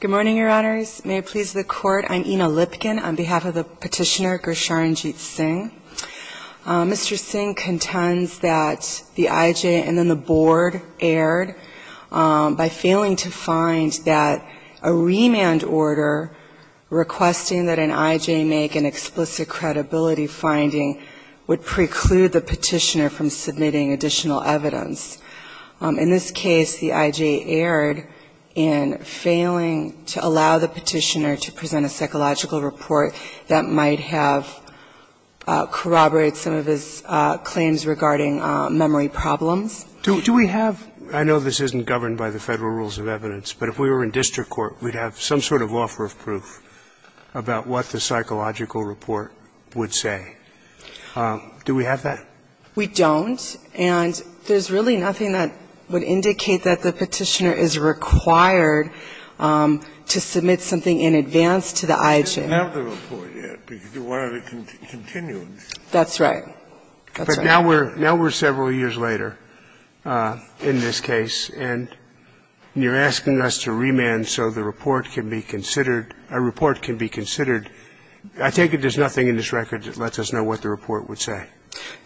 Good morning, Your Honors. May it please the Court, I'm Ina Lipkin on behalf of the Petitioner, Gursharanjit Singh. Mr. Singh contends that the IJ and then the board erred by failing to find that a remand order requesting that an IJ make an explicit credibility finding would preclude the Petitioner from submitting additional evidence. In this case the IJ erred in failing to make an explicit credibility finding, and the IJ erred in failing to allow the Petitioner to present a psychological report that might have corroborated some of his claims regarding memory problems. Do we have – I know this isn't governed by the Federal Rules of Evidence, but if we were in district court we'd have some sort of offer of proof about what the psychological report would say. Do we have that? We don't, and there's really nothing that would indicate that the Petitioner is required to submit something in advance to the IJ. We don't have the report yet, because we want it to continue. That's right. But now we're several years later in this case, and you're asking us to remand so the report can be considered. I take it there's nothing in this record that lets us know what the report would say.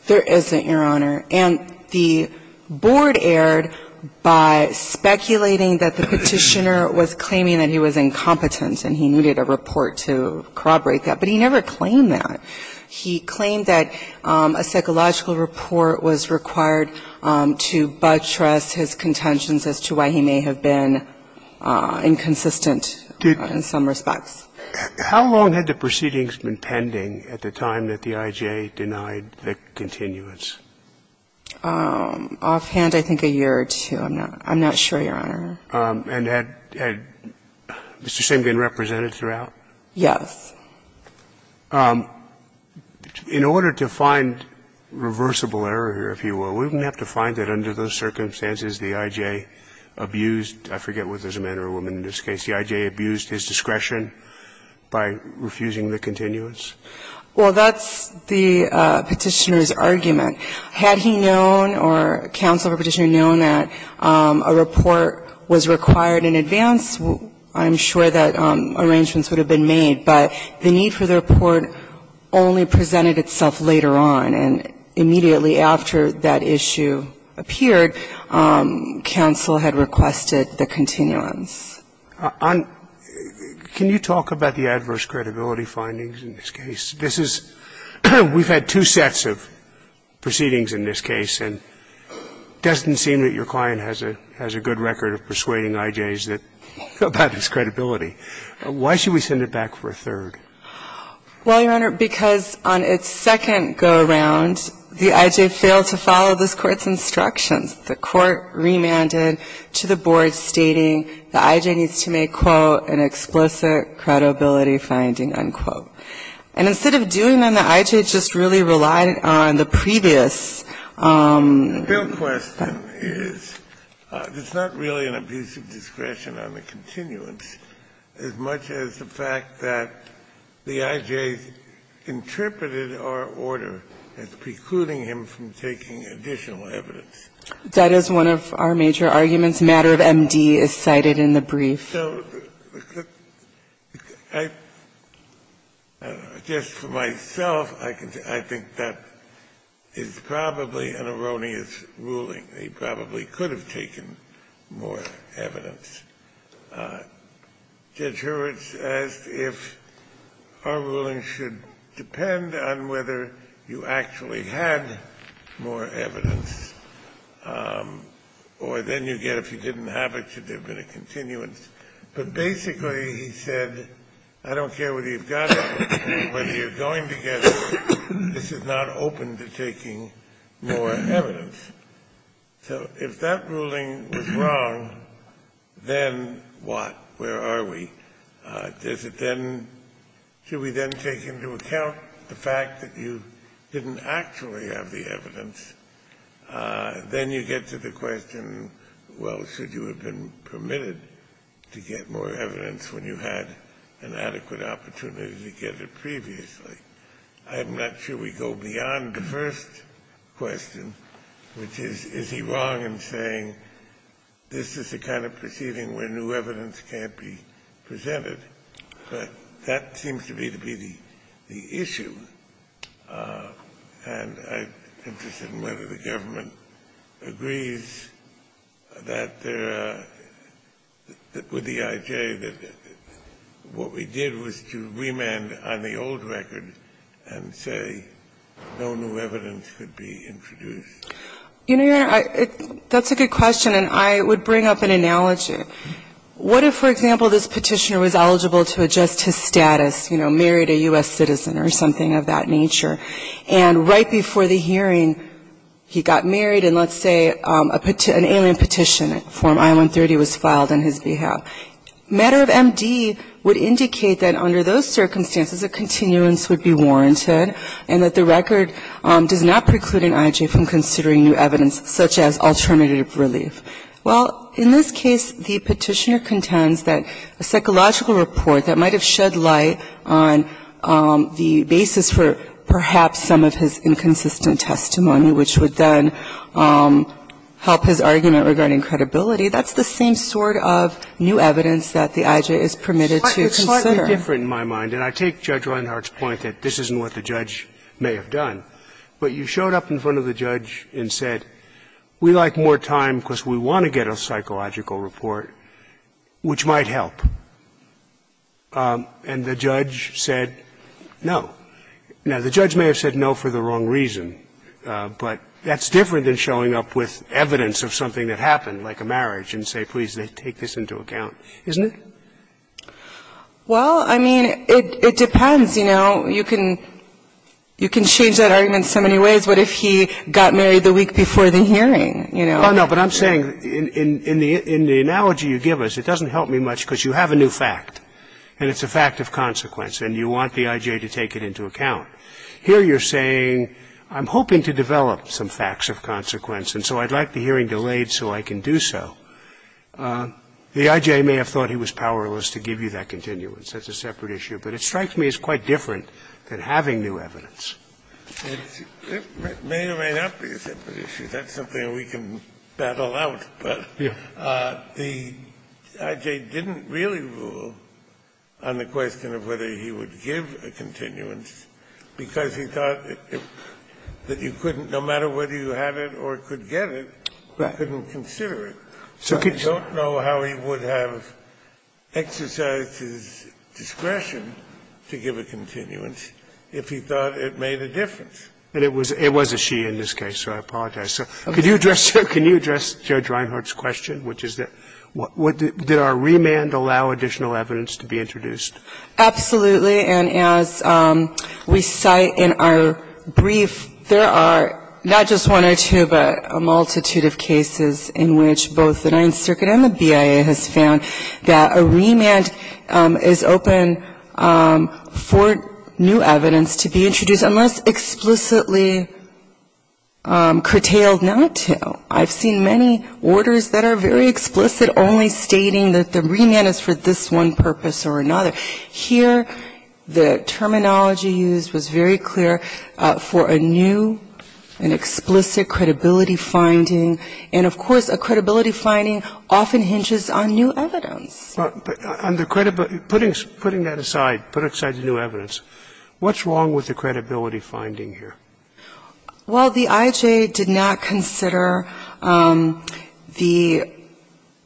There isn't, Your Honor. And the Board erred by speculating that the Petitioner was claiming that he was incompetent and he needed a report to corroborate that. But he never claimed that. He claimed that a psychological report was required to buttress his contentions as to why he may have been inconsistent in some respects. How long had the proceedings been pending at the time that the IJ denied the continuance? Offhand, I think a year or two. I'm not sure, Your Honor. And had Mr. Simkin represented throughout? Yes. In order to find reversible error here, if you will, we're going to have to find that the IJ abused, I forget whether it was a man or a woman in this case, the IJ abused his discretion by refusing the continuance? Well, that's the Petitioner's argument. Had he known or counsel of a Petitioner known that a report was required in advance, I'm sure that arrangements would have been made. But the need for the report only presented itself later on. And immediately after that issue appeared, counsel had requested the continuance. Can you talk about the adverse credibility findings in this case? This is we've had two sets of proceedings in this case, and it doesn't seem that your client has a good record of persuading IJs about its credibility. Well, Your Honor, because on its second go-around, the IJ failed to follow this Court's instructions. The Court remanded to the board stating the IJ needs to make, quote, an explicit credibility finding, unquote. And instead of doing that, the IJ just really relied on the previous. The real question is, it's not really an abuse of discretion on the continuance as much as the fact that the IJ interpreted our order as precluding him from taking additional evidence. That is one of our major arguments. Matter of MD is cited in the brief. So I don't know. Just for myself, I can say I think that is probably an erroneous ruling. He probably could have taken more evidence. Judge Hurwitz asked if our ruling should depend on whether you actually had more evidence, or then you get, if you didn't have it, should there have been a continuance. But basically, he said, I don't care what you've got, whether you're going to get it, this is not open to taking more evidence. So if that ruling was wrong, then what? Where are we? Does it then, should we then take into account the fact that you didn't actually have the evidence? Then you get to the question, well, should you have been permitted to get more evidence when you had an adequate opportunity to get it previously? I'm not sure we go beyond the first question, which is, is he wrong in saying this is the kind of proceeding where new evidence can't be presented? But that seems to me to be the issue. And I'm interested in whether the government agrees that there are, with the IJ, that what we did was to remand on the old record and say no new evidence could be introduced. You know, Your Honor, that's a good question, and I would bring up an analogy. What if, for example, this Petitioner was eligible to adjust his status, you know, married a U.S. citizen or something of that nature, and right before the hearing he got married and, let's say, an alien petition, Form I-130, was filed on his behalf. Matter of MD would indicate that under those circumstances a continuance would be warranted and that the record does not preclude an IJ from considering new evidence such as alternative relief. Well, in this case, the Petitioner contends that a psychological report that might have shed light on the basis for perhaps some of his inconsistent testimony, which would then help his argument regarding credibility, that's the same sort of new evidence that the IJ is permitted to consider. It's slightly different in my mind, and I take Judge Reinhart's point that this isn't what the judge may have done. But you showed up in front of the judge and said, we'd like more time because we want to get a psychological report, which might help, and the judge said no. Now, the judge may have said no for the wrong reason, but that's different than showing up with evidence of something that happened, like a marriage, and say, please, take this into account, isn't it? Well, I mean, it depends, you know. You can change that argument so many ways. What if he got married the week before the hearing, you know? Oh, no, but I'm saying in the analogy you give us, it doesn't help me much because you have a new fact, and it's a fact of consequence, and you want the IJ to take it into account. Here you're saying, I'm hoping to develop some facts of consequence, and so I'd like the hearing delayed so I can do so. The IJ may have thought he was powerless to give you that continuance. That's a separate issue. But it strikes me as quite different than having new evidence. It may or may not be a separate issue. That's something we can battle out. But the IJ didn't really rule on the question of whether he would give a continuance because he thought that you couldn't, no matter whether you have it or could get it, couldn't consider it. So I don't know how he would have exercised his discretion to give a continuance if he thought it made a difference. And it was a she in this case, so I apologize. Can you address Judge Reinhart's question, which is did our remand allow additional evidence to be introduced? Absolutely. And as we cite in our brief, there are not just one or two, but a multitude of cases in which both the Ninth Circuit and the BIA has found that a remand is open for new evidence to be introduced unless explicitly curtailed not to. I've seen many orders that are very explicit only stating that the remand is for this one purpose or another. But here the terminology used was very clear for a new and explicit credibility finding. And, of course, a credibility finding often hinges on new evidence. Putting that aside, put aside the new evidence, what's wrong with the credibility finding here? Well, the IJ did not consider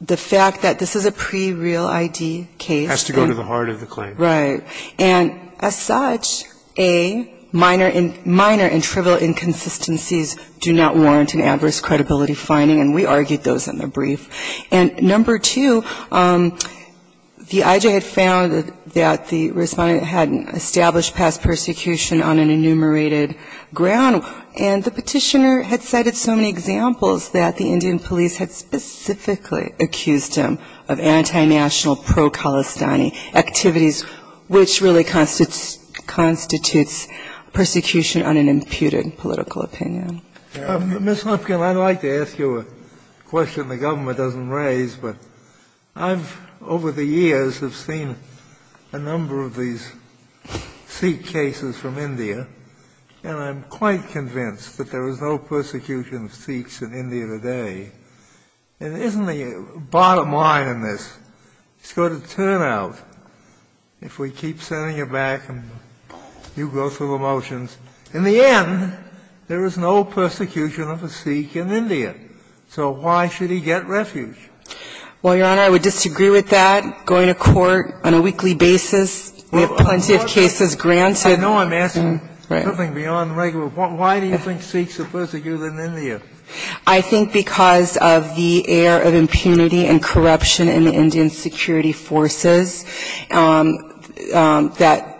the fact that this is a pre-real ID case. It has to go to the heart of the claim. Right. And as such, A, minor and trivial inconsistencies do not warrant an adverse credibility finding, and we argued those in the brief. And number two, the IJ had found that the Respondent had established past persecution on an enumerated ground, and the Petitioner had cited so many examples that the Indian and Palestinian activities, which really constitutes persecution on an imputed political opinion. Ms. Huffington, I'd like to ask you a question the government doesn't raise, but I've over the years have seen a number of these Sikh cases from India, and I'm quite convinced that there is no persecution of Sikhs in India today. And isn't the bottom line in this, it's got to turn out, if we keep sending it back and you go through the motions, in the end, there is no persecution of a Sikh in India. So why should he get refuge? Well, Your Honor, I would disagree with that. Going to court on a weekly basis, we have plenty of cases granted. I know I'm asking something beyond the regular point. Why do you think Sikhs are persecuted in India? I think because of the air of impunity and corruption in the Indian security forces, that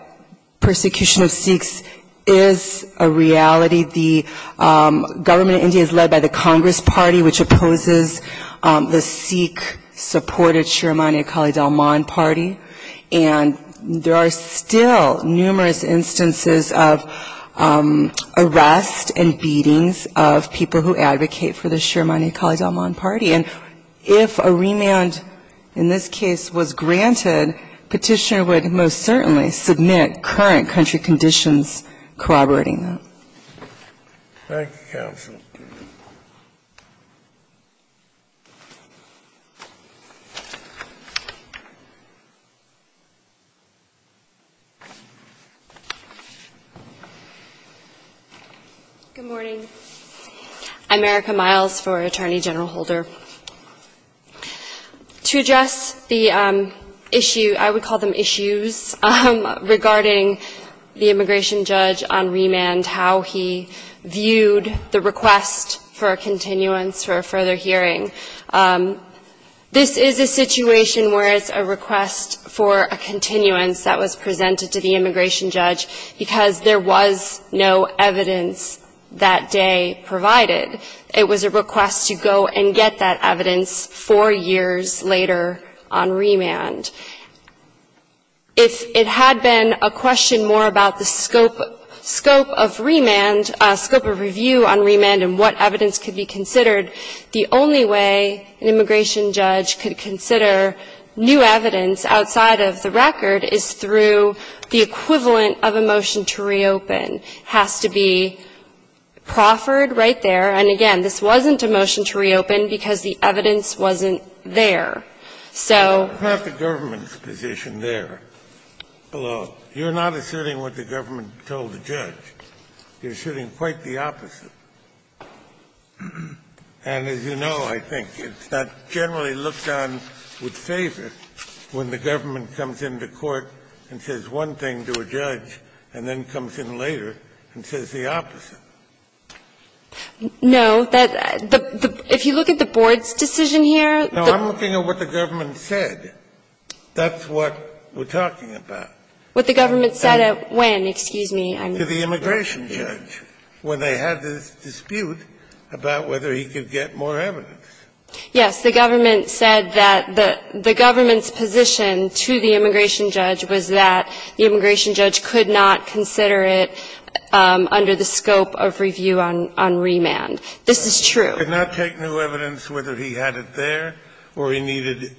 persecution of Sikhs is a reality. The government in India is led by the Congress Party, which opposes the Sikh-supported Shiromani Akali Dalman Party, and there are still numerous instances of arrest and beatings of people who advocate for the Shiromani Akali Dalman Party. And if a remand in this case was granted, Petitioner would most certainly submit current country conditions corroborating that. Thank you, counsel. Good morning. I'm Erica Miles for Attorney General Holder. To address the issue, I would call them issues, regarding the immigration judge on remand, how he viewed the request for a continuance for a further hearing. This is a situation where it's a request for a continuance that was presented to the immigration judge because there was no evidence that day provided. It was a request to go and get that evidence four years later on remand. If it had been a question more about the scope of remand, scope of review on remand and what evidence could be considered, the only way an immigration judge could consider new evidence outside of the record is through the equivalent of a motion to reopen. It has to be proffered right there. And again, this wasn't a motion to reopen because the evidence wasn't there. So the government's position there, although you're not asserting what the government told the judge, you're asserting quite the opposite. And as you know, I think it's not generally looked on with favor when the government comes into court and says one thing to a judge and then comes in later and says the opposite. No. If you look at the board's decision here. No, I'm looking at what the government said. That's what we're talking about. What the government said at when, excuse me. To the immigration judge. When they had this dispute about whether he could get more evidence. Yes. The government said that the government's position to the immigration judge was that the immigration judge could not consider it under the scope of review on remand. This is true. Could not take new evidence whether he had it there or he needed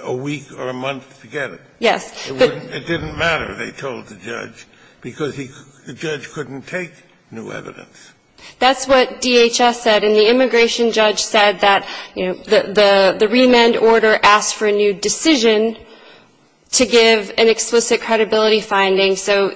a week or a month to get it. Yes. It didn't matter, they told the judge, because the judge couldn't take new evidence. That's what DHS said. And the immigration judge said that, you know, the remand order asked for a new decision to give an explicit credibility finding. So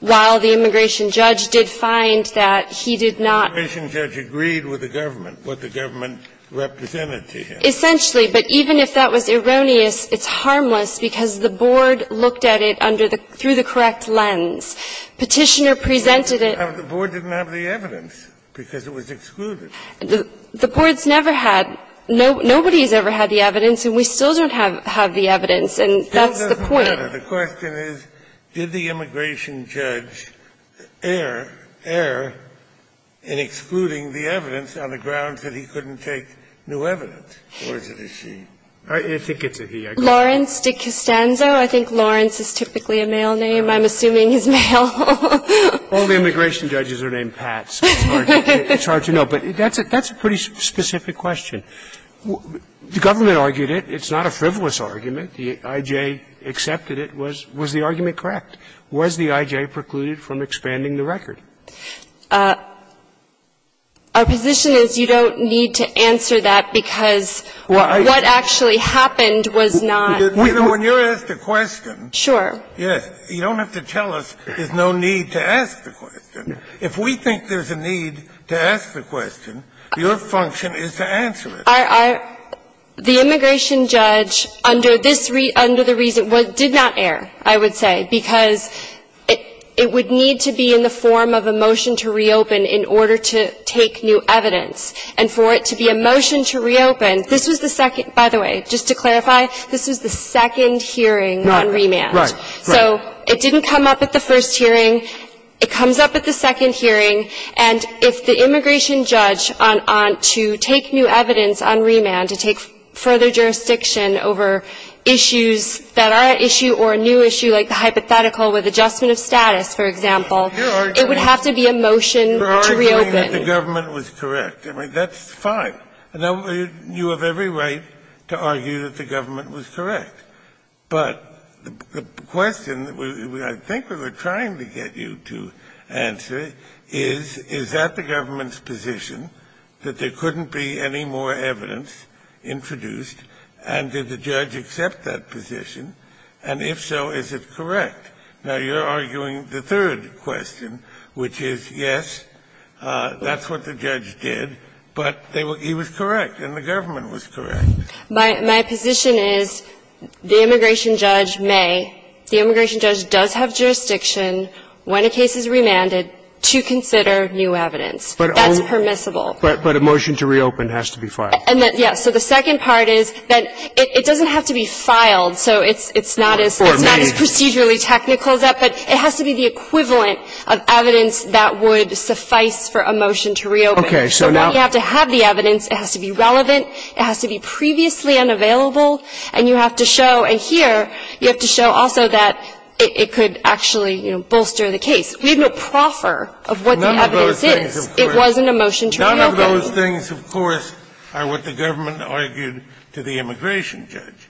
while the immigration judge did find that he did not. The immigration judge agreed with the government, what the government represented to him. Essentially, but even if that was erroneous, it's harmless because the board looked at it through the correct lens. Petitioner presented it. The board didn't have the evidence because it was excluded. The board's never had. Nobody's ever had the evidence and we still don't have the evidence. And that's the point. It doesn't matter. The question is, did the immigration judge err in excluding the evidence on the grounds that he couldn't take new evidence or did he? I think it's a he. Lawrence DeCostanzo. I think Lawrence is typically a male name. I'm assuming he's male. All the immigration judges are named Pats. It's hard to know. But that's a pretty specific question. The government argued it. It's not a frivolous argument. The I.J. accepted it. Was the argument correct? Was the I.J. precluded from expanding the record? Our position is you don't need to answer that because what actually happened was not. When you're asked a question. Sure. Yes. You don't have to tell us there's no need to ask the question. If we think there's a need to ask the question, your function is to answer it. The immigration judge under the reason did not err, I would say, because it would need to be in the form of a motion to reopen in order to take new evidence. And for it to be a motion to reopen, this was the second. By the way, just to clarify, this was the second hearing on remand. Right. So it didn't come up at the first hearing. It comes up at the second hearing. And if the immigration judge to take new evidence on remand, to take further jurisdiction over issues that are at issue or a new issue like the hypothetical with adjustment of status, for example, it would have to be a motion to reopen. You're arguing that the government was correct. I mean, that's fine. You have every right to argue that the government was correct. But the question I think we were trying to get you to answer is, is that the government's position that there couldn't be any more evidence introduced, and did the judge accept that position? And if so, is it correct? Now, you're arguing the third question, which is, yes, that's what the judge did, but he was correct and the government was correct. My position is the immigration judge may. The immigration judge does have jurisdiction when a case is remanded to consider new evidence. That's permissible. But a motion to reopen has to be filed. Yes. So the second part is that it doesn't have to be filed, so it's not as procedurally technical as that. But it has to be the equivalent of evidence that would suffice for a motion to reopen. Okay. So now you have to have the evidence. It has to be relevant. It has to be previously unavailable. And you have to show, and here, you have to show also that it could actually, you know, bolster the case. We have no proffer of what the evidence is. None of those things, of course. It wasn't a motion to reopen. None of those things, of course, are what the government argued to the immigration judge.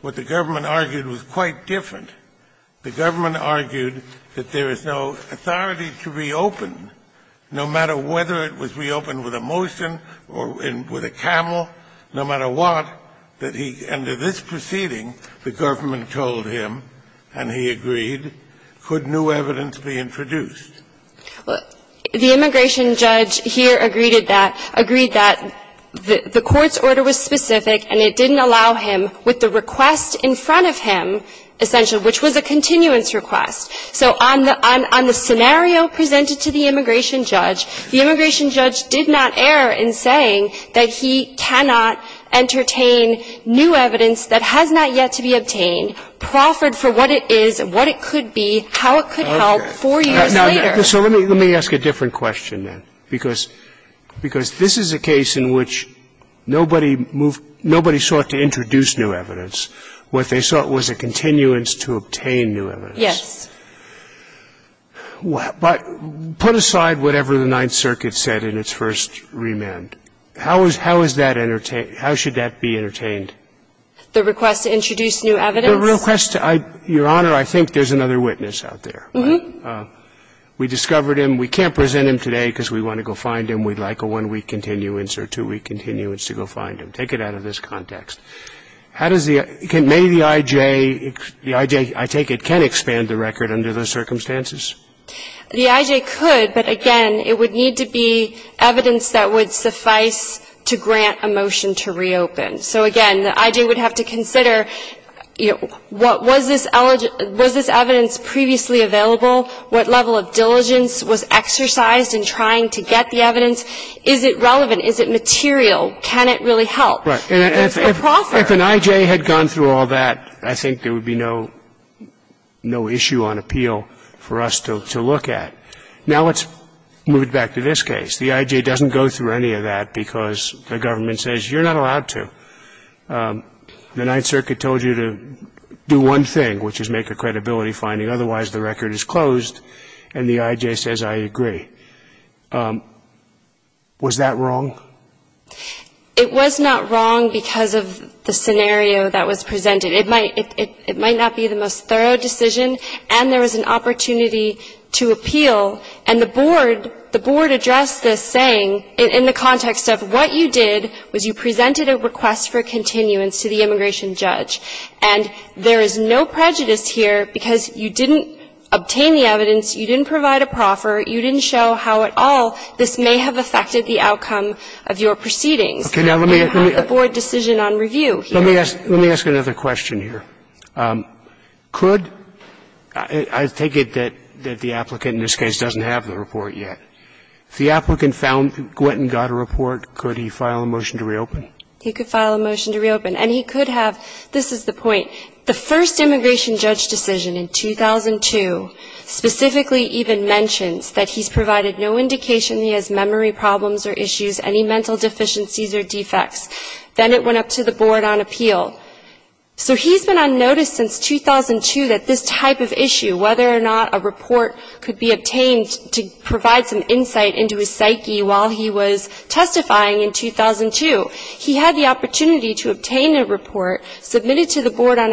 What the government argued was quite different. The government argued that there is no authority to reopen, no matter whether it was reopened with a motion or with a camel, no matter what, that he, under this proceeding, the government told him, and he agreed, could new evidence be introduced. Well, the immigration judge here agreed to that, agreed that the court's order was to open with the request in front of him, essentially, which was a continuance request. So on the scenario presented to the immigration judge, the immigration judge did not err in saying that he cannot entertain new evidence that has not yet to be obtained, proffered for what it is, what it could be, how it could help four years later. So let me ask a different question then, because this is a case in which nobody moved, nobody sought to introduce new evidence. What they sought was a continuance to obtain new evidence. Yes. But put aside whatever the Ninth Circuit said in its first remand, how is, how is that entertain, how should that be entertained? The request to introduce new evidence? The request, Your Honor, I think there's another witness out there. Uh-huh. We discovered him. We can't present him today because we want to go find him. We'd like a one-week continuance or two-week continuance to go find him. Take it out of this context. How does the, may the I.J., the I.J., I take it, can expand the record under those circumstances? The I.J. could, but again, it would need to be evidence that would suffice to grant a motion to reopen. So again, the I.J. would have to consider, you know, what was this, was this evidence previously available, what level of diligence was exercised in trying to get the evidence to the court? Is it relevant? Is it material? Can it really help? Right. If an I.J. had gone through all that, I think there would be no, no issue on appeal for us to look at. Now let's move it back to this case. The I.J. doesn't go through any of that because the government says you're not allowed to. The Ninth Circuit told you to do one thing, which is make a credibility finding. Otherwise, the record is closed and the I.J. says, I agree. Was that wrong? It was not wrong because of the scenario that was presented. It might, it might not be the most thorough decision, and there was an opportunity to appeal. And the board, the board addressed this saying, in the context of what you did was you presented a request for continuance to the immigration judge. And there is no prejudice here because you didn't obtain the evidence, you didn't provide a proffer, you didn't show how at all this may have affected the outcome of your proceedings. Okay. Now let me. And you have the board decision on review here. Let me ask, let me ask another question here. Could, I take it that, that the applicant in this case doesn't have the report yet. If the applicant found, went and got a report, could he file a motion to reopen? He could file a motion to reopen. And he could have, this is the point, the first immigration judge decision in 2002, specifically even mentions that he's provided no indication he has memory problems or issues, any mental deficiencies or defects. Then it went up to the board on appeal. So he's been on notice since 2002 that this type of issue, whether or not a report could be obtained to provide some insight into his psyche while he was testifying in 2002, he had the opportunity to obtain a report, submit it to the board on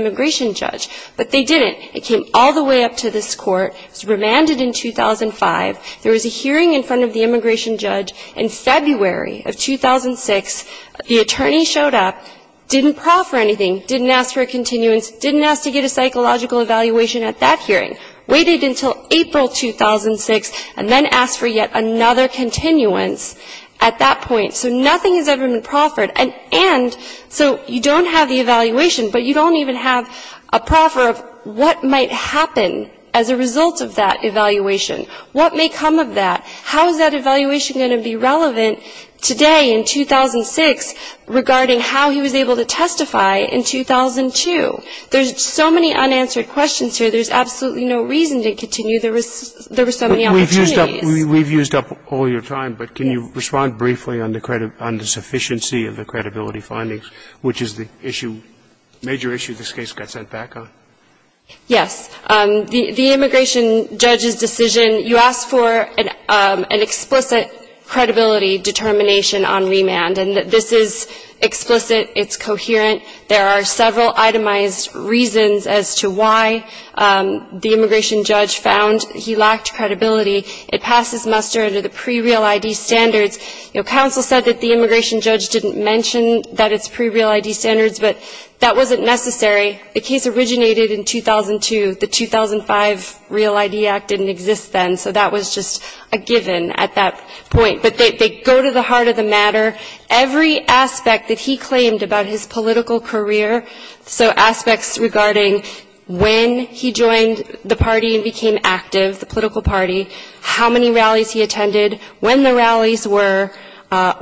immigration judge. But they didn't. It came all the way up to this court. It was remanded in 2005. There was a hearing in front of the immigration judge in February of 2006. The attorney showed up, didn't proffer anything, didn't ask for a continuance, didn't ask to get a psychological evaluation at that hearing, waited until April 2006, and then asked for yet another continuance at that point. So nothing has ever been proffered. And so you don't have the evaluation, but you don't even have a proffer of what might happen as a result of that evaluation. What may come of that? How is that evaluation going to be relevant today in 2006 regarding how he was able to testify in 2002? There's so many unanswered questions here. There's absolutely no reason to continue. There were so many opportunities. We've used up all your time, but can you respond briefly on the sufficiency of the credibility findings, which is the issue, major issue this case got sent back on? Yes. The immigration judge's decision, you asked for an explicit credibility determination on remand. And this is explicit. It's coherent. There are several itemized reasons as to why the immigration judge found he lacked credibility. It passed as muster under the pre-real ID standards. You know, counsel said that the immigration judge didn't mention that it's pre-real ID standards, but that wasn't necessary. The case originated in 2002. The 2005 Real ID Act didn't exist then, so that was just a given at that point. But they go to the heart of the matter. Every aspect that he claimed about his political career, so aspects regarding when he joined the party and became active, the political party, how many rallies he attended, when the rallies were,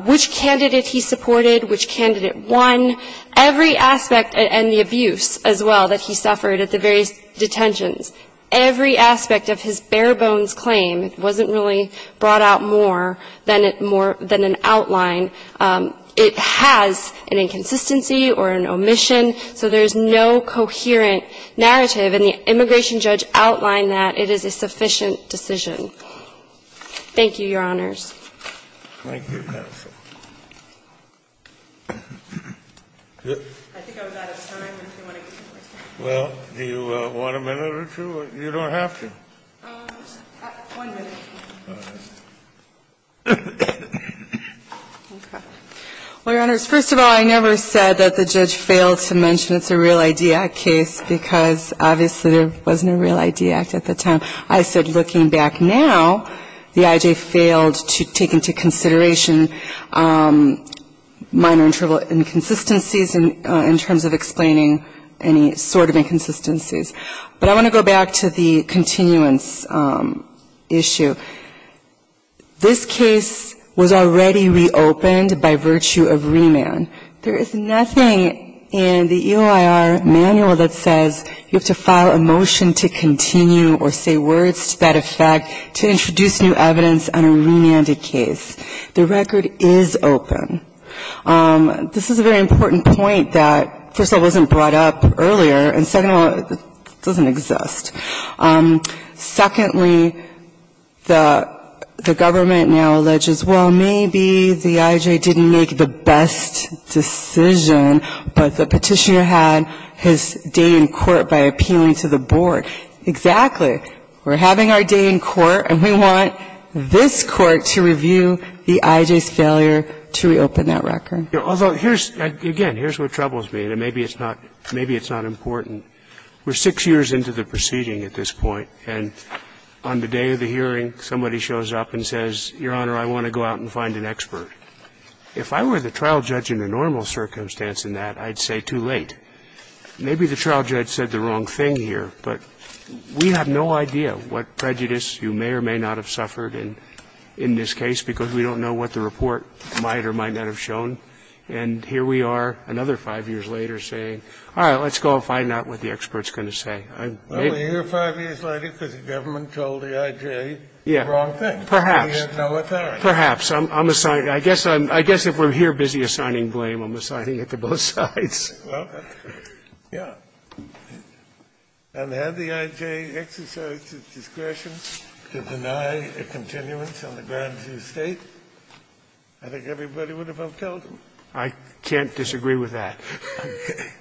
which candidate he supported, which candidate won, every aspect, and the abuse, as well, that he suffered at the various detentions, every aspect of his bare-bones claim wasn't really brought out more than an outline. It has an inconsistency or an omission. So there's no coherent narrative, and the immigration judge outlined that it is a sufficient decision. Thank you, Your Honors. Thank you, counsel. I think I was out of time. Well, do you want a minute or two? You don't have to. One minute. All right. Okay. Well, Your Honors, first of all, I never said that the judge failed to make a mention it's a Real ID Act case, because obviously there wasn't a Real ID Act at the time. I said looking back now, the I.J. failed to take into consideration minor inconsistencies in terms of explaining any sort of inconsistencies. But I want to go back to the continuance issue. This case was already reopened by virtue of remand. There is nothing in the EOIR manual that says you have to file a motion to continue or say words to that effect to introduce new evidence on a remanded case. The record is open. This is a very important point that, first of all, wasn't brought up earlier, and second of all, it doesn't exist. Secondly, the government now alleges, well, maybe the I.J. didn't make the best decision, but the petitioner had his day in court by appealing to the board. Exactly. We're having our day in court, and we want this Court to review the I.J.'s failure to reopen that record. Although here's, again, here's what troubles me, and maybe it's not important. We're six years into the proceeding at this point, and on the day of the hearing, somebody shows up and says, Your Honor, I want to go out and find an expert. If I were the trial judge in a normal circumstance in that, I'd say too late. Maybe the trial judge said the wrong thing here, but we have no idea what prejudice you may or may not have suffered in this case because we don't know what the report might or might not have shown. And here we are another five years later saying, all right, let's go and find out what the expert's going to say. Well, we're here five years later because the government told the I.J. the wrong thing. Perhaps. We have no authority. Well, perhaps. I'm assigning. I guess if we're here busy assigning blame, I'm assigning it to both sides. Well, yeah. And had the I.J. exercised its discretion to deny a continuance on the grounds of state, I think everybody would have upheld them. I can't disagree with that.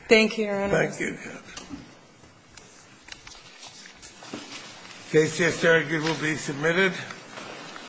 Thank you, Your Honor. Thank you. The case just argued will be submitted.